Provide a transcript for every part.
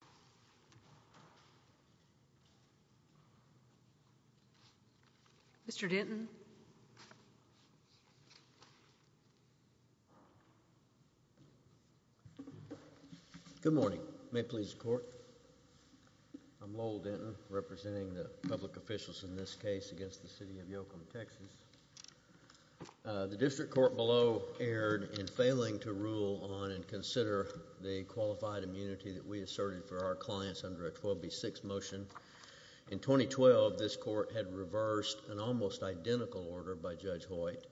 Lowell Denton v. City of Yoakum, Texas The District Court below erred in failing to rule on and consider the qualified immunity that we asserted for our clients under a 12B6 motion. In 2012, this Court had reversed an almost identical order by Judge Hoyt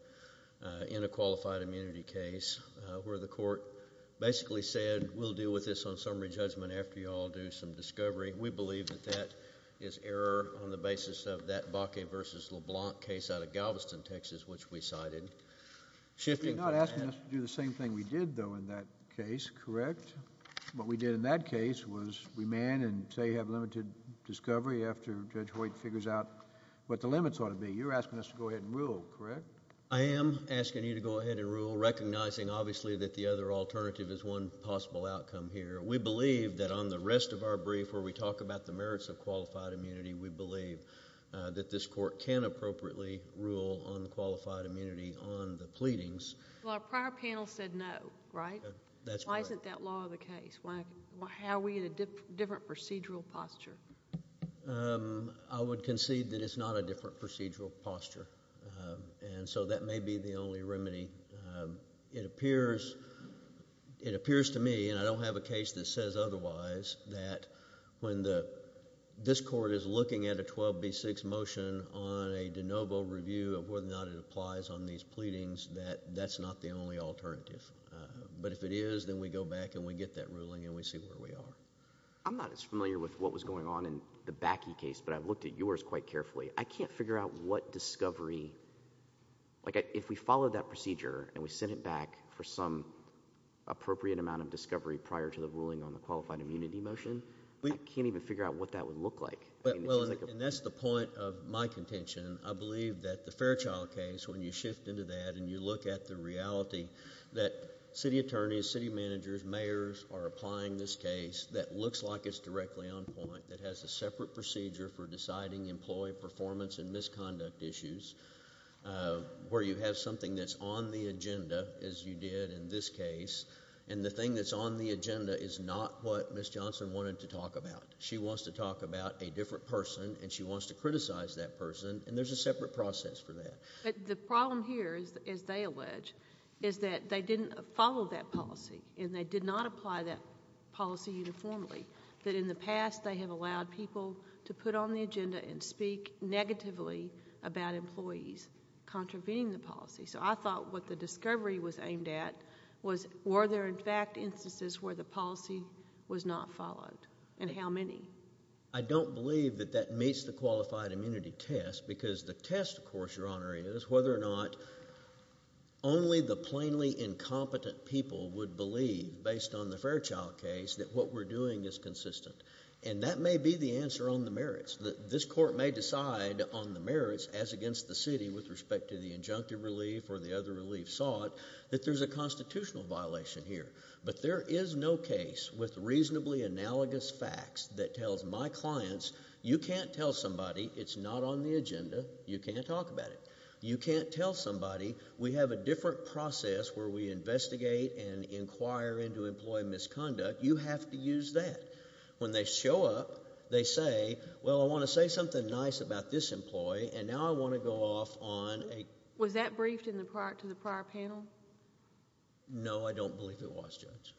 in a qualified immunity case where the Court basically said, we'll deal with this on summary judgment after you all do some discovery. We believe that that is error on the basis of that Bakke v. LeBlanc case out of Galveston, Texas, which we cited. Shifting from that... You're not asking us to do the same thing we did, though, in that case, correct, what we did in that case was remand and say you have limited discovery after Judge Hoyt figures out what the limits ought to be. You're asking us to go ahead and rule, correct? I am asking you to go ahead and rule, recognizing, obviously, that the other alternative is one possible outcome here. We believe that on the rest of our brief where we talk about the merits of qualified immunity, we believe that this Court can appropriately rule on qualified immunity on the pleadings. Well, our prior panel said no, right? That's correct. How do you draw the case? How are we in a different procedural posture? I would concede that it's not a different procedural posture, and so that may be the only remedy. It appears to me, and I don't have a case that says otherwise, that when this Court is looking at a 12B6 motion on a de novo review of whether or not it applies on these pleadings, that's not the only alternative. But if it is, then we go back and we get that ruling and we see where we are. I'm not as familiar with what was going on in the Bakke case, but I've looked at yours quite carefully. I can't figure out what discovery, like if we followed that procedure and we sent it back for some appropriate amount of discovery prior to the ruling on the qualified immunity motion, I can't even figure out what that would look like. Well, and that's the point of my contention. I believe that the Fairchild case, when you shift into that and you look at the reality that city attorneys, city managers, mayors are applying this case that looks like it's directly on point, that has a separate procedure for deciding employee performance and misconduct issues, where you have something that's on the agenda, as you did in this case, and the thing that's on the agenda is not what Ms. Johnson wanted to talk about. She wants to talk about a different person, and she wants to criticize that person, and there's a separate process for that. The problem here, as they allege, is that they didn't follow that policy, and they did not apply that policy uniformly, that in the past they have allowed people to put on the agenda and speak negatively about employees contravening the policy, so I thought what the discovery was aimed at was were there, in fact, instances where the policy was not followed, and how many? I don't believe that that meets the qualified immunity test, because the test, of course, Your Honor, is whether or not only the plainly incompetent people would believe, based on the Fairchild case, that what we're doing is consistent, and that may be the answer on the merits. This court may decide on the merits, as against the city with respect to the injunctive relief or the other relief sought, that there's a constitutional violation here, but there is no case with reasonably analogous facts that tells my clients, you can't tell somebody it's not on the agenda, you can't talk about it. You can't tell somebody we have a different process where we investigate and inquire into employee misconduct. You have to use that. When they show up, they say, well, I want to say something nice about this employee, and now I want to go off on a... Was that briefed to the prior panel? No, I don't believe it was, Judge.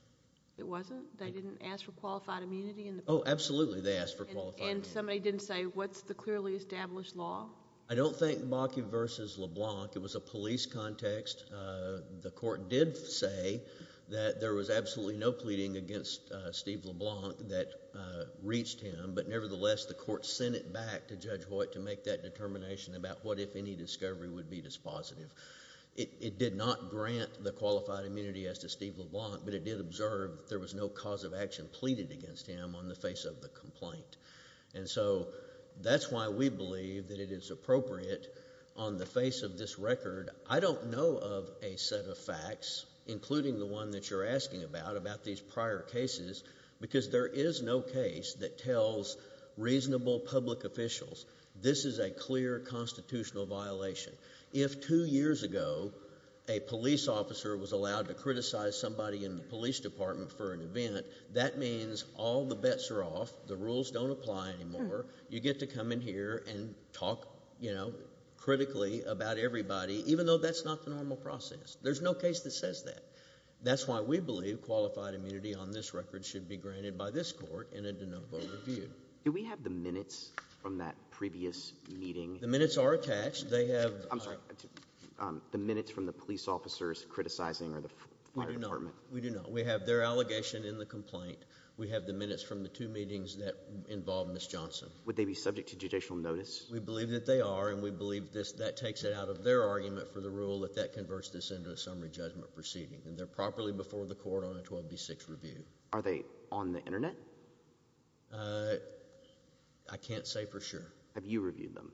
It wasn't? They didn't ask for qualified immunity in the... Oh, absolutely, they asked for qualified immunity. And somebody didn't say, what's the clearly established law? I don't think Bakke v. LeBlanc. It was a police context. The court did say that there was absolutely no pleading against Steve LeBlanc that reached him, but nevertheless, the court sent it back to Judge Hoyt to make that determination about what if any discovery would be dispositive. It did not grant the qualified immunity as to Steve LeBlanc, but it did observe that there was no cause of action pleaded against him on the face of the complaint. And so, that's why we believe that it is appropriate on the face of this record. I don't know of a set of facts, including the one that you're asking about, about these prior cases, because there is no case that tells reasonable public officials this is a clear constitutional violation. If two years ago, a police officer was allowed to criticize somebody in the police department for an event, that means all the bets are off, the rules don't apply anymore, you get to come in here and talk, you know, critically about everybody, even though that's not the normal process. There's no case that says that. That's why we believe qualified immunity on this record should be granted by this court in a de novo review. Do we have the minutes from that previous meeting? The minutes are attached. They have... I'm sorry. The minutes from the police officers criticizing the fire department. We do not. We have their allegation in the complaint. We have the minutes from the two meetings that involve Ms. Johnson. Would they be subject to judicial notice? We believe that they are, and we believe that takes it out of their argument for the rule that that converts this into a summary judgment proceeding. They're properly before the court on a 12B6 review. Are they on the internet? I can't say for sure. Have you reviewed them?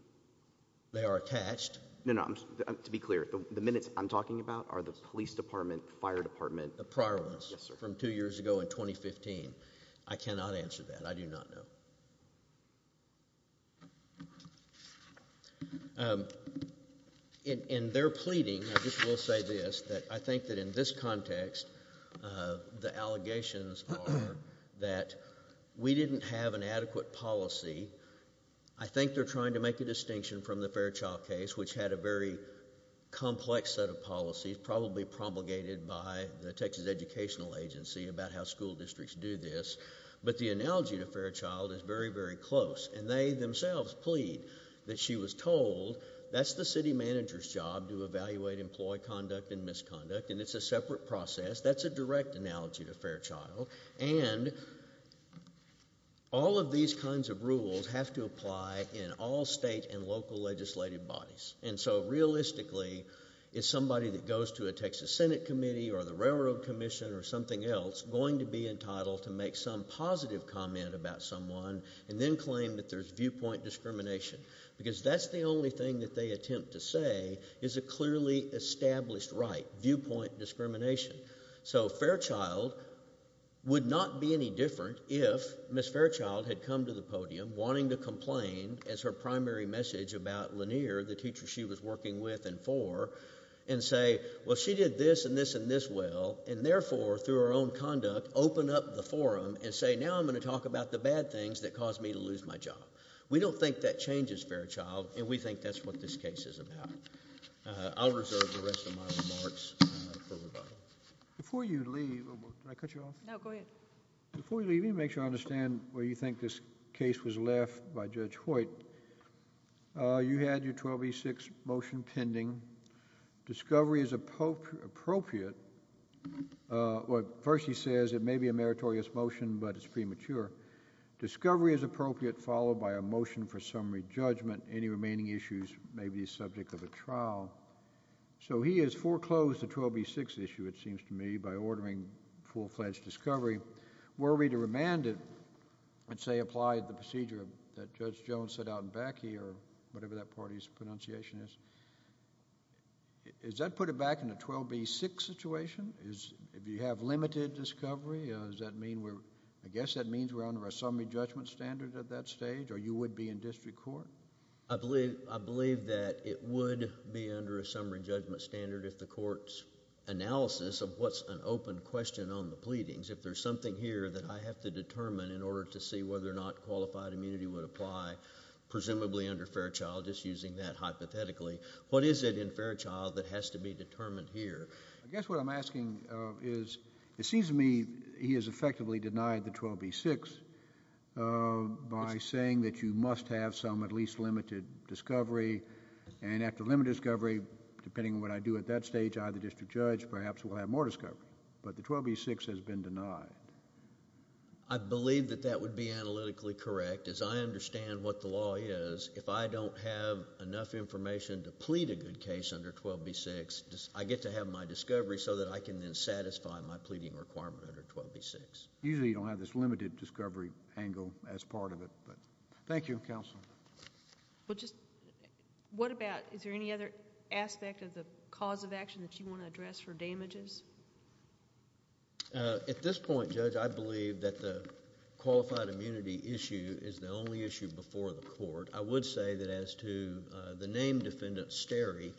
They are attached. No, no. To be clear, the minutes I'm talking about are the police department, fire department... The prior ones from two years ago in 2015. I cannot answer that. I do not know. In their pleading, I just will say this, that I think that in this context, the allegations are that we didn't have an adequate policy. I think they're trying to make a distinction from the Fairchild case, which had a very diverse educational agency about how school districts do this, but the analogy to Fairchild is very, very close. They themselves plead that she was told that's the city manager's job to evaluate employee conduct and misconduct, and it's a separate process. That's a direct analogy to Fairchild. All of these kinds of rules have to apply in all state and local legislative bodies. Realistically, is somebody that goes to a Texas Senate committee or the Railroad Commission or something else going to be entitled to make some positive comment about someone and then claim that there's viewpoint discrimination, because that's the only thing that they attempt to say is a clearly established right, viewpoint discrimination. Fairchild would not be any different if Ms. Fairchild had come to the podium wanting to and for, and say, well, she did this and this and this well, and therefore, through her own conduct, open up the forum and say, now I'm going to talk about the bad things that caused me to lose my job. We don't think that changes Fairchild, and we think that's what this case is about. I'll reserve the rest of my remarks for rebuttal. Before you leave, let me make sure I understand where you think this case was left by Judge Hoyt. You had your 12B6 motion pending. Discovery is appropriate. First, he says it may be a meritorious motion, but it's premature. Discovery is appropriate, followed by a motion for summary judgment. Any remaining issues may be subject of a trial. So he has foreclosed the 12B6 issue, it seems to me, by ordering full-fledged discovery. Were we to remand it, and say apply the procedure that Judge Jones set out in Backe or whatever that party's pronunciation is, does that put it back in a 12B6 situation? If you have limited discovery, does that mean we're, I guess that means we're under a summary judgment standard at that stage, or you would be in district court? I believe, I believe that it would be under a summary judgment standard if the court's question on the pleadings, if there's something here that I have to determine in order to see whether or not qualified immunity would apply, presumably under Fairchild, just using that hypothetically. What is it in Fairchild that has to be determined here? I guess what I'm asking is, it seems to me he has effectively denied the 12B6 by saying that you must have some at least limited discovery, and after limited discovery, depending on what I do at that stage, I, the district judge, perhaps will have more discovery, but the 12B6 has been denied. I believe that that would be analytically correct, as I understand what the law is. If I don't have enough information to plead a good case under 12B6, I get to have my discovery so that I can then satisfy my pleading requirement under 12B6. Usually, you don't have this limited discovery angle as part of it, but... Thank you, Counsel. Well, just, what about, is there any other aspect of the cause of action that you want to address for damages? At this point, Judge, I believe that the qualified immunity issue is the only issue before the court. I would say that as to the named defendant, Sterry,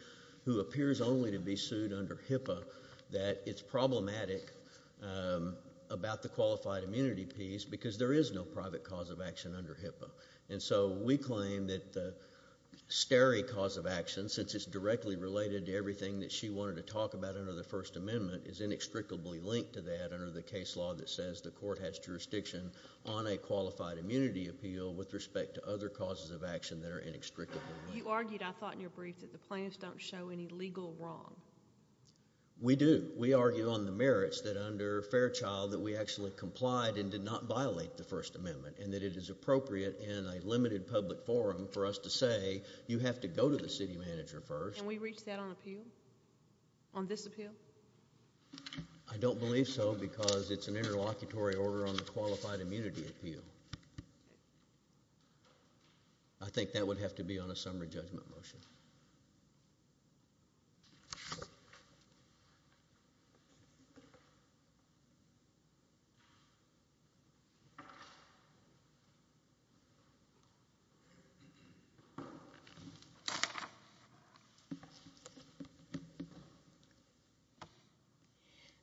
who appears only to be sued under HIPAA, that it's problematic about the qualified immunity piece because there is no private cause of action under HIPAA. And so, we claim that the Sterry cause of action, since it's directly related to everything that she wanted to talk about under the First Amendment, is inextricably linked to that under the case law that says the court has jurisdiction on a qualified immunity appeal with respect to other causes of action that are inextricably linked. You argued, I thought in your brief, that the plaintiffs don't show any legal wrong. We do. We argue on the merits that under Fairchild, that we actually complied and did not violate the First Amendment, and that it is appropriate in a limited public forum for us to say you have to go to the city manager first. Can we reach that on appeal? On this appeal? I don't believe so because it's an interlocutory order on the qualified immunity appeal. I think that would have to be on a summary judgment motion.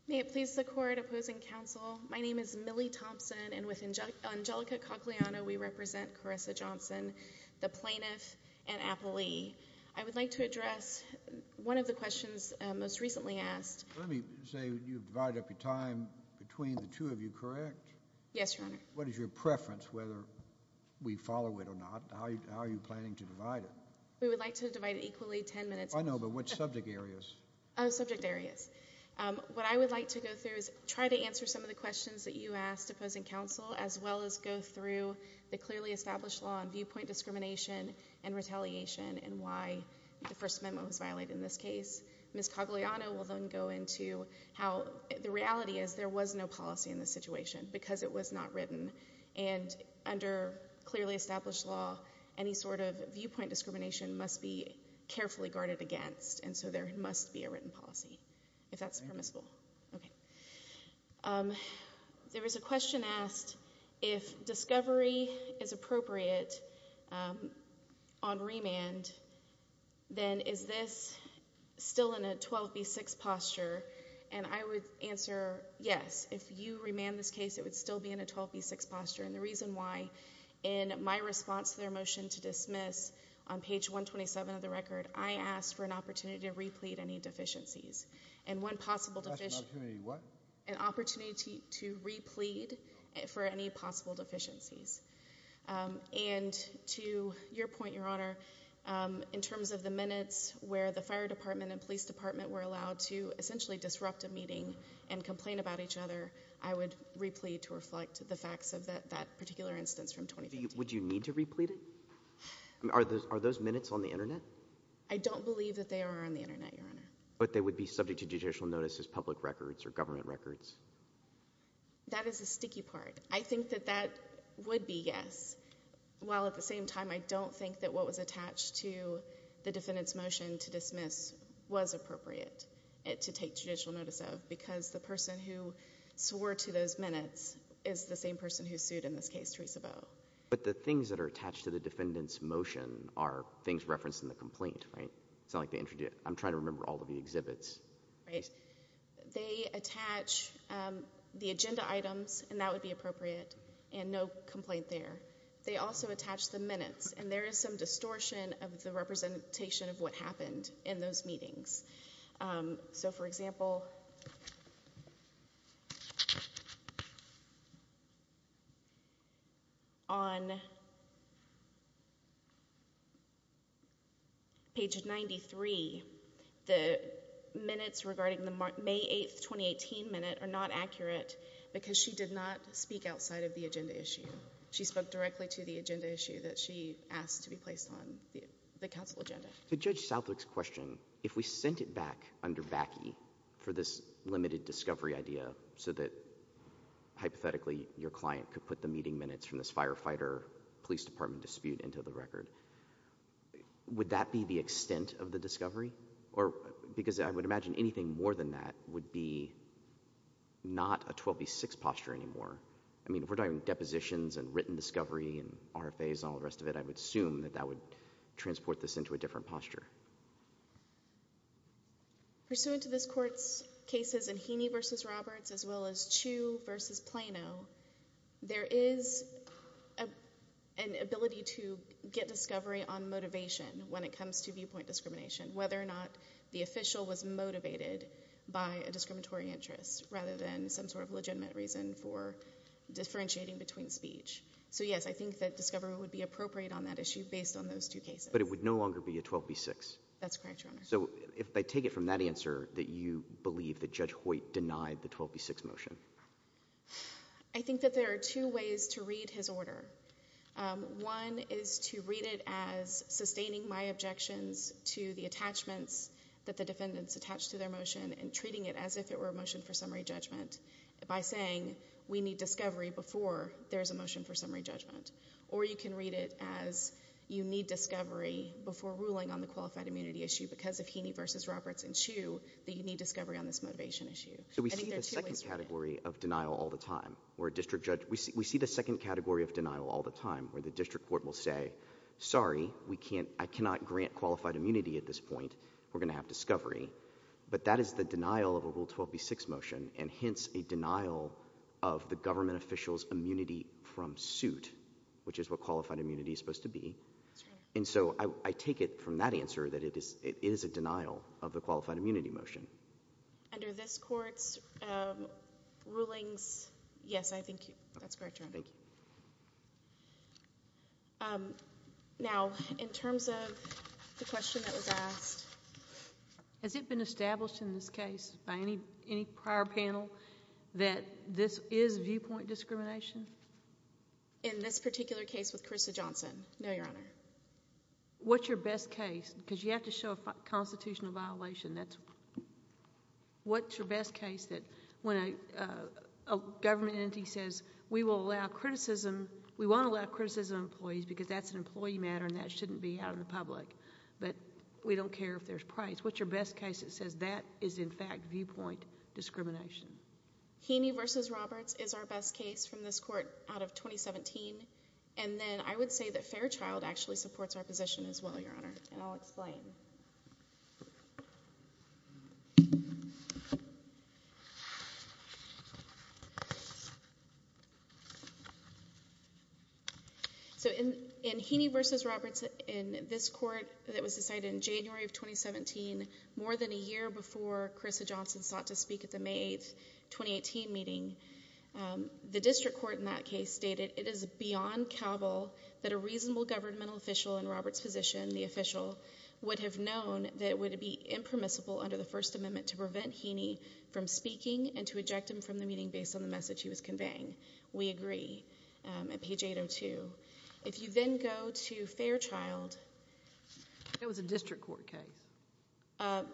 May it please the court opposing counsel, my name is Millie Thompson. And with Angelica Cocliano, we represent Caressa Johnson, the plaintiff, and Appley. I would like to address one of the questions most recently asked. Let me say you've divided up your time between the two of you, correct? Yes, Your Honor. What is your preference whether we follow it or not? How are you planning to divide it? We would like to divide it equally ten minutes. I know, but what subject areas? Subject areas. What I would like to go through is try to answer some of the questions that you asked opposing counsel as well as go through the clearly established law on viewpoint discrimination and retaliation and why the First Amendment was violated in this case. Ms. Cocliano will then go into how the reality is there was no policy in this situation because it was not written. And under clearly established law, any sort of viewpoint discrimination must be carefully regarded against, and so there must be a written policy if that's permissible. There was a question asked if discovery is appropriate on remand, then is this still in a 12B6 posture? And I would answer yes. If you remand this case, it would still be in a 12B6 posture. And the reason why, in my response to their motion to dismiss on page 127 of the record, I asked for an opportunity to replead any deficiencies. And one possible deficiency. What? An opportunity to replead for any possible deficiencies. And to your point, Your Honor, in terms of the minutes where the fire department and police department were allowed to essentially disrupt a meeting and complain about each other, I would replead to reflect the facts of that particular instance from 2013. Would you need to replead it? Are those minutes on the Internet? I don't believe that they are on the Internet, Your Honor. But they would be subject to judicial notice as public records or government records? That is the sticky part. I think that that would be yes, while at the same time I don't think that what was attached to the defendant's motion to dismiss was appropriate to take judicial notice of because the person who swore to those minutes is the same person who sued in this case, Teresa Bowe. But the things that are attached to the defendant's motion are things referenced in the complaint, right? It's not like they introduced it. I'm trying to remember all of the exhibits. Right. They attach the agenda items, and that would be appropriate, and no complaint there. They also attach the minutes, and there is some distortion of the representation of what happened in those meetings. So, for example, on page 93, the minutes regarding the May 8, 2018 minute are not accurate because she did not speak outside of the agenda issue. She spoke directly to the agenda issue that she asked to be placed on the counsel agenda. So Judge Southwick's question, if we sent it back under VACI for this limited discovery idea so that hypothetically your client could put the meeting minutes from this firefighter police department dispute into the record, would that be the extent of the discovery? Because I would imagine anything more than that would be not a 12B6 posture anymore. I mean, if we're talking depositions and written discovery and RFAs and all the rest of it, I would assume that that would transport this into a different posture. Pursuant to this Court's cases in Heaney v. Roberts as well as Chiu v. Plano, there is an ability to get discovery on motivation when it comes to viewpoint discrimination, whether or not the official was motivated by a discriminatory interest rather than some sort of legitimate reason for differentiating between speech. So, yes, I think that discovery would be appropriate on that issue based on those two cases. But it would no longer be a 12B6? That's correct, Your Honor. So if I take it from that answer that you believe that Judge Hoyt denied the 12B6 motion? I think that there are two ways to read his order. One is to read it as sustaining my objections to the attachments that the defendants attached to their motion and treating it as if it were a motion for summary judgment by saying we need discovery before there is a motion for summary judgment. Or you can read it as you need discovery before ruling on the qualified immunity issue because of Heaney v. Roberts and Chiu that you need discovery on this motivation issue. So we see the second category of denial all the time where a district judge we see the second category of denial all the time where the district court will say, sorry, I cannot grant qualified immunity at this point, we're going to have discovery. But that is the denial of a Rule 12B6 motion and hence a denial of the government official's immunity from suit, which is what qualified immunity is supposed to be. And so I take it from that answer that it is a denial of the qualified immunity motion. Under this court's rulings, yes, I think that's correct, Your Honor. Thank you. Now, in terms of the question that was asked. Has it been established in this case by any prior panel that this is viewpoint discrimination? In this particular case with Carissa Johnson, no, Your Honor. What's your best case? Because you have to show a constitutional violation. What's your best case that when a government entity says, we will allow criticism, we won't allow criticism of employees because that's an employee matter and that shouldn't be out in the public, but we don't care if there's price. What's your best case that says that is in fact viewpoint discrimination? Heaney v. Roberts is our best case from this court out of 2017. And then I would say that Fairchild actually supports our position as well, Your Honor. And I'll explain. So in Heaney v. Roberts in this court that was decided in January of 2017, more than a year before Carissa Johnson sought to speak at the May 8, 2018 meeting, the district court in that case stated it is beyond cowbell that a reasonable governmental official in Roberts' position, the official, would have known that it would be impermissible under the First Amendment to prevent Heaney from speaking and to eject him from the meeting based on the message he was conveying. We agree at page 802. If you then go to Fairchild. That was a district court case.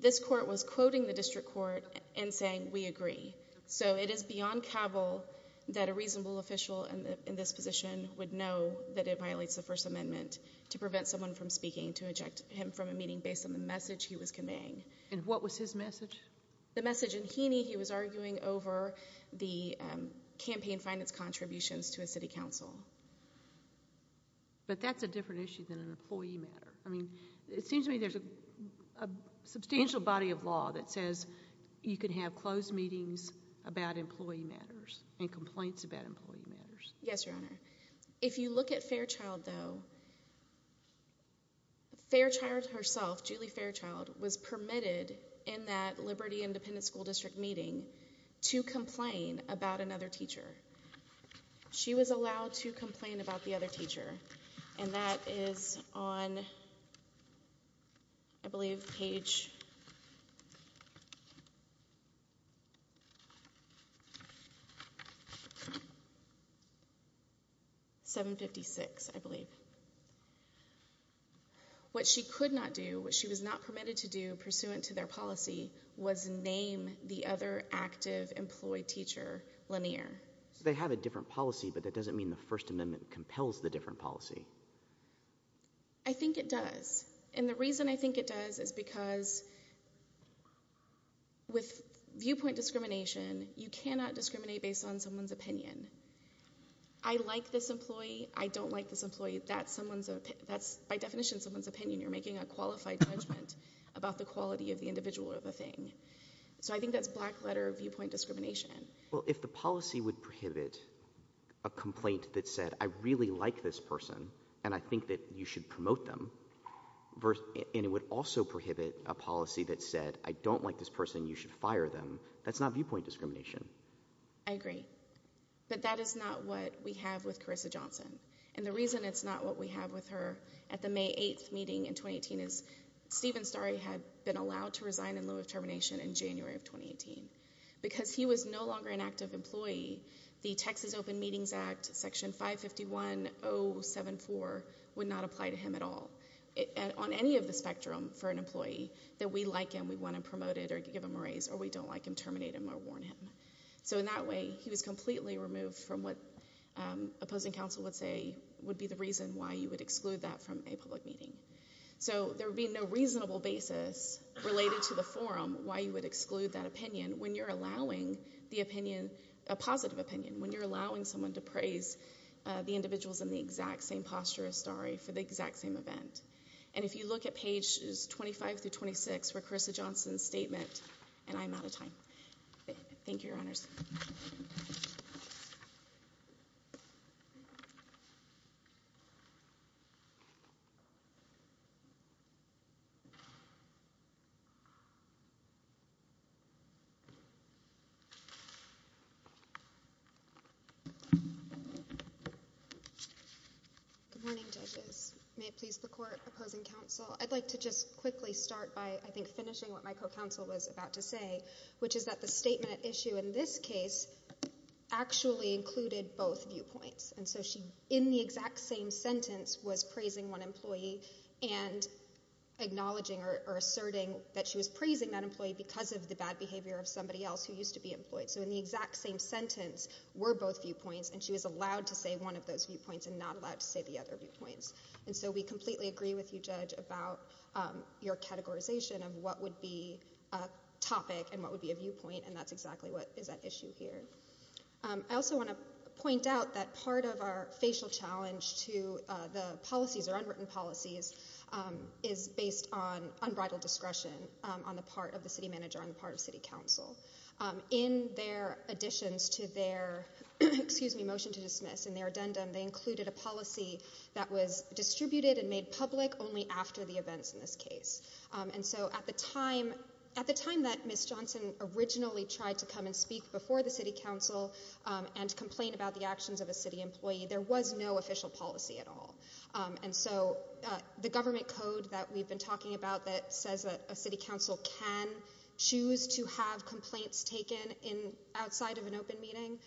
This court was quoting the district court and saying we agree. So it is beyond cowbell that a reasonable official in this position would know that it violates the First Amendment to prevent someone from speaking and to eject him from a meeting based on the message he was conveying. And what was his message? The message in Heaney he was arguing over the campaign finance contributions to a city council. But that's a different issue than an employee matter. I mean, it seems to me there's a substantial body of law that says you can have closed meetings about employee matters and complaints about employee matters. Yes, Your Honor. If you look at Fairchild, though, Fairchild herself, Julie Fairchild, was permitted in that Liberty Independent School District meeting to complain about another teacher. She was allowed to complain about the other teacher. And that is on, I believe, page 756, I believe. What she could not do, what she was not permitted to do pursuant to their policy, was name the other active employee teacher, Lanier. They have a different policy, but that doesn't mean the First Amendment compels the different policy. I think it does. And the reason I think it does is because with viewpoint discrimination, you cannot discriminate based on someone's opinion. I like this employee. I don't like this employee. That's by definition someone's opinion. You're making a qualified judgment about the quality of the individual or the thing. So I think that's black letter viewpoint discrimination. Well, if the policy would prohibit a complaint that said I really like this person and I think that you should promote them, and it would also prohibit a policy that said I don't like this person, you should fire them, that's not viewpoint discrimination. I agree. But that is not what we have with Carissa Johnson. And the reason it's not what we have with her at the May 8th meeting in 2018 is Stephen Starry had been allowed to resign in lieu of termination in January of 2018. Because he was no longer an active employee, the Texas Open Meetings Act, Section 551074, would not apply to him at all. On any of the spectrum for an employee, that we like him, we want to promote him or give him a raise, or we don't like him, terminate him or warn him. So in that way, he was completely removed from what opposing counsel would say would be the reason why you would exclude that from a public meeting. So there would be no reasonable basis related to the forum why you would exclude that opinion when you're allowing the opinion, a positive opinion, when you're allowing someone to praise the individuals in the exact same posture as Starry for the exact same event. And if you look at pages 25 through 26 for Carissa Johnson's statement, and I'm out of time. Thank you, Your Honors. Good morning, judges. May it please the court opposing counsel. I'd like to just quickly start by, I think, finishing what my co-counsel was about to say, which is that the statement at issue in this case actually included both viewpoints. And so she, in the exact same sentence, was praising one employee and acknowledging or asserting that she was praising that employee because of the bad behavior of somebody else who used to be employed. So in the exact same sentence were both viewpoints, and she was allowed to say one of those viewpoints and not allowed to say the other viewpoints. And so we completely agree with you, Judge, about your categorization of what would be a topic and what would be a viewpoint, and that's exactly what is at issue here. I also want to point out that part of our facial challenge to the policies or unwritten policies is based on unbridled discretion on the part of the city manager, on the part of city council. In their additions to their, excuse me, motion to dismiss, in their addendum, they included a policy that was distributed and made public only after the events in this case. And so at the time that Ms. Johnson originally tried to come and speak before the city council and complain about the actions of a city employee, there was no official policy at all. And so the government code that we've been talking about that says that a city council can choose to have complaints taken outside of an open meeting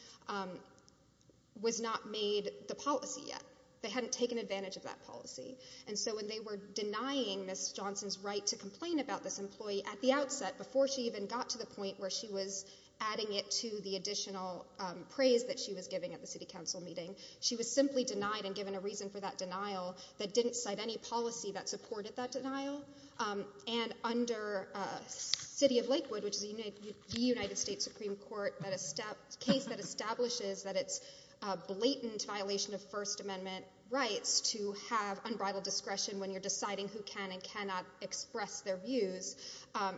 was not made the policy yet. They hadn't taken advantage of that policy. And so when they were denying Ms. Johnson's right to complain about this employee at the outset, before she even got to the point where she was adding it to the additional praise that she was giving at the city council meeting, she was simply denied and given a reason for that denial that didn't cite any policy that supported that denial. And under City of Lakewood, which is the United States Supreme Court, a case that establishes that it's a blatant violation of First Amendment rights to have unbridled discretion when you're deciding who can and cannot express their views,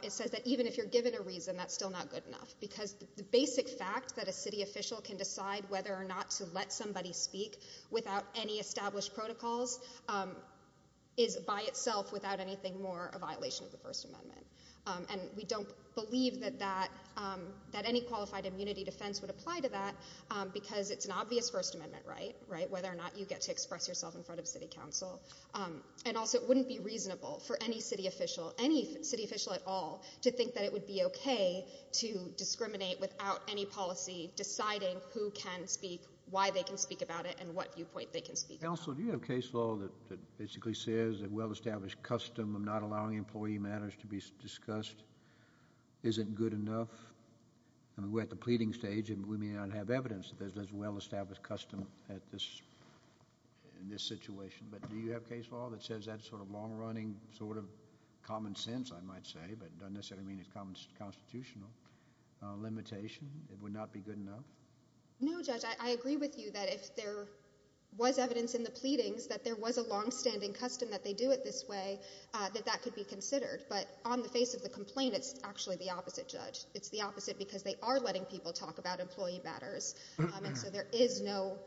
it says that even if you're given a reason, that's still not good enough. Because the basic fact that a city official can decide whether or not to let somebody speak without any established protocols is by itself, without anything more, a violation of the First Amendment. And we don't believe that any qualified immunity defense would apply to that because it's an obvious First Amendment right, whether or not you get to express yourself in front of city council. And also it wouldn't be reasonable for any city official, any city official at all, to think that it would be okay to discriminate without any policy deciding who can speak, why they can speak about it, and what viewpoint they can speak about. Counsel, do you have case law that basically says that well-established custom of not allowing employee matters to be discussed isn't good enough? I mean, we're at the pleading stage, and we may not have evidence that there's well-established custom in this situation. But do you have case law that says that sort of long-running sort of common sense, I might say, but doesn't necessarily mean it's constitutional limitation, it would not be good enough? No, Judge. I agree with you that if there was evidence in the pleadings that there was a long-standing custom that they do it this way, that that could be considered. But on the face of the complaint, it's actually the opposite, Judge. It's the opposite because they are letting people talk about employee matters. And so there is no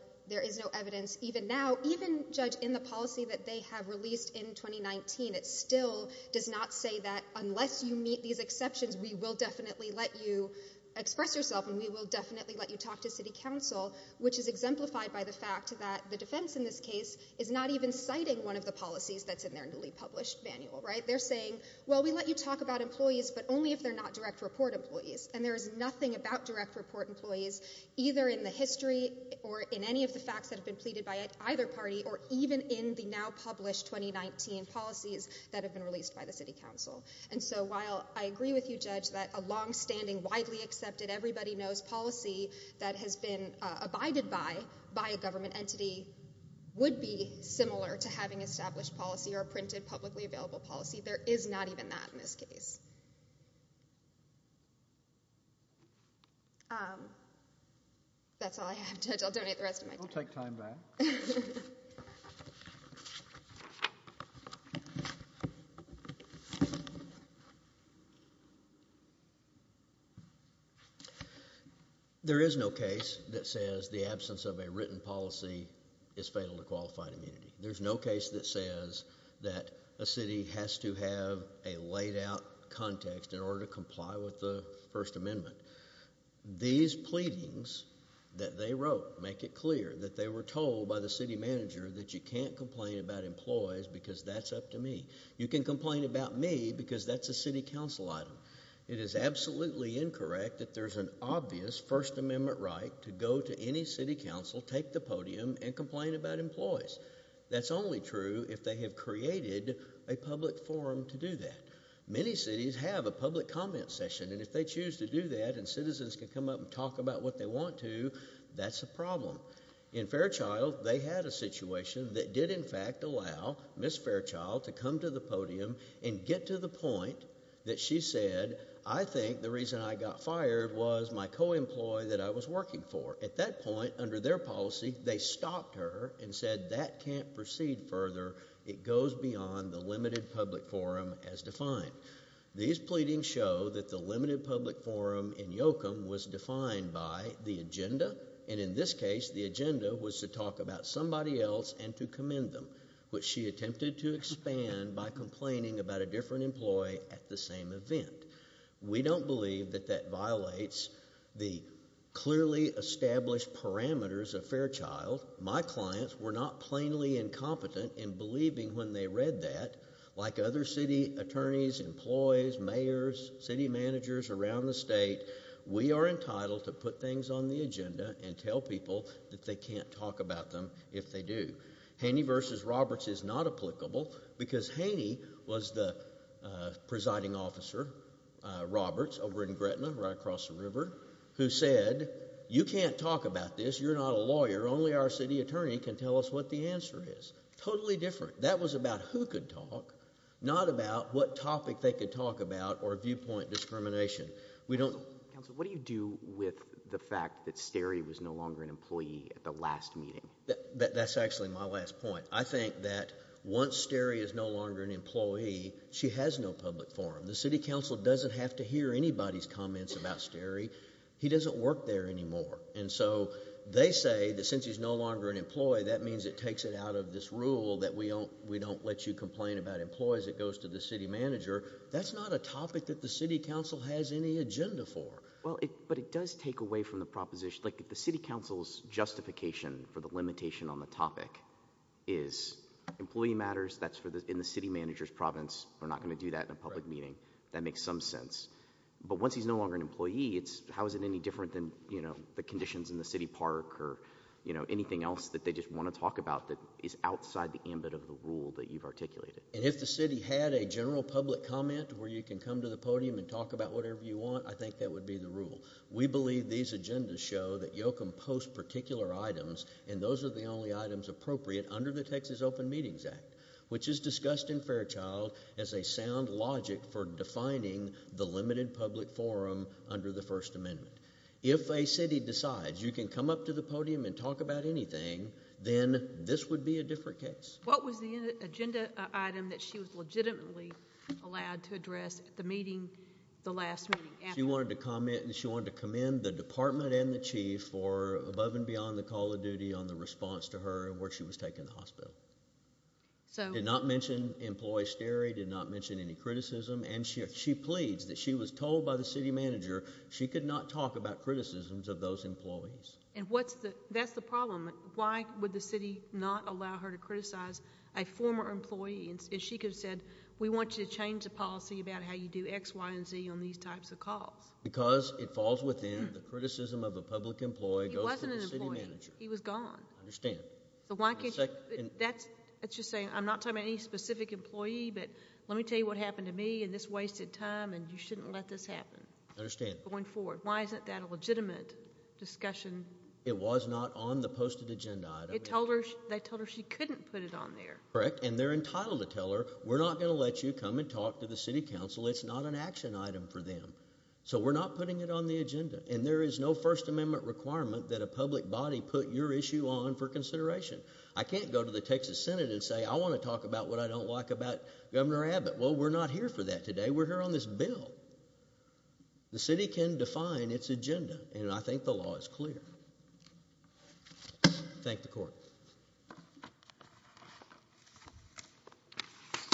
evidence even now. Even, Judge, in the policy that they have released in 2019, it still does not say that unless you meet these exceptions, we will definitely let you express yourself, and we will definitely let you talk to City Council, which is exemplified by the fact that the defense in this case is not even citing one of the policies that's in their newly published manual, right? They're saying, well, we let you talk about employees, but only if they're not direct report employees. And there is nothing about direct report employees either in the history or in any of the facts that have been pleaded by either party or even in the now-published 2019 policies that have been released by the City Council. And so while I agree with you, Judge, that a longstanding, widely accepted, everybody-knows policy that has been abided by by a government entity would be similar to having established policy or printed publicly available policy, there is not even that in this case. That's all I have, Judge. I'll donate the rest of my time. I'll take time back. There is no case that says the absence of a written policy is fatal to qualified immunity. There's no case that says that a city has to have a laid-out context in order to comply with the First Amendment. These pleadings that they wrote make it clear that they were told by the City Manager that you can't complain about employees because that's up to me. You can complain about me because that's a City Council item. It is absolutely incorrect that there's an obvious First Amendment right to go to any City Council, take the podium, and complain about employees. That's only true if they have created a public forum to do that. Many cities have a public comment session, and if they choose to do that and citizens can come up and talk about what they want to, that's a problem. In Fairchild, they had a situation that did, in fact, allow Ms. Fairchild to come to the podium and get to the point that she said, I think the reason I got fired was my co-employee that I was working for. At that point, under their policy, they stopped her and said, that can't proceed further. It goes beyond the limited public forum as defined. These pleadings show that the limited public forum in Yoakum was defined by the agenda, and in this case, the agenda was to talk about somebody else and to commend them, which she attempted to expand by complaining about a different employee at the same event. We don't believe that that violates the clearly established parameters of Fairchild. My clients were not plainly incompetent in believing when they read that. Like other city attorneys, employees, mayors, city managers around the state, we are entitled to put things on the agenda and tell people that they can't talk about them if they do. Haney v. Roberts is not applicable, because Haney was the presiding officer, Roberts, over in Gretna, right across the river, who said, you can't talk about this, you're not a lawyer, only our city attorney can tell us what the answer is. Totally different. That was about who could talk, not about what topic they could talk about or viewpoint discrimination. What do you do with the fact that Sterry was no longer an employee at the last meeting? That's actually my last point. I think that once Sterry is no longer an employee, she has no public forum. The city council doesn't have to hear anybody's comments about Sterry. He doesn't work there anymore. And so they say that since he's no longer an employee, that means it takes it out of this rule that we don't let you complain about employees. It goes to the city manager. That's not a topic that the city council has any agenda for. But it does take away from the proposition. Like if the city council's justification for the limitation on the topic is employee matters, that's in the city manager's province. We're not going to do that in a public meeting. That makes some sense. But once he's no longer an employee, how is it any different than the conditions in the city park or anything else that they just want to talk about that is outside the ambit of the rule that you've articulated? And if the city had a general public comment where you can come to the podium and talk about whatever you want, I think that would be the rule. We believe these agendas show that you'll compose particular items, and those are the only items appropriate under the Texas Open Meetings Act, which is discussed in Fairchild as a sound logic for defining the limited public forum under the First Amendment. If a city decides you can come up to the podium and talk about anything, then this would be a different case. What was the agenda item that she was legitimately allowed to address at the meeting, the last meeting? She wanted to comment, and she wanted to commend the department and the chief for above and beyond the call of duty on the response to her and where she was taken to the hospital. Did not mention employee stare, did not mention any criticism, and she pleads that she was told by the city manager she could not talk about criticisms of those employees. And that's the problem. Why would the city not allow her to criticize a former employee? And she could have said, we want you to change the policy about how you do X, Y, and Z on these types of calls. Because it falls within the criticism of a public employee goes to the city manager. He was gone. I understand. That's just saying, I'm not talking about any specific employee, but let me tell you what happened to me, and this wasted time, and you shouldn't let this happen. I understand. Going forward, why isn't that a legitimate discussion? It was not on the posted agenda item. They told her she couldn't put it on there. Correct, and they're entitled to tell her, we're not going to let you come and talk to the city council. It's not an action item for them. So we're not putting it on the agenda. And there is no First Amendment requirement that a public body put your issue on for consideration. I can't go to the Texas Senate and say, I want to talk about what I don't like about Governor Abbott. Well, we're not here for that today. We're here on this bill. The city can define its agenda, and I think the law is clear. Thank the court.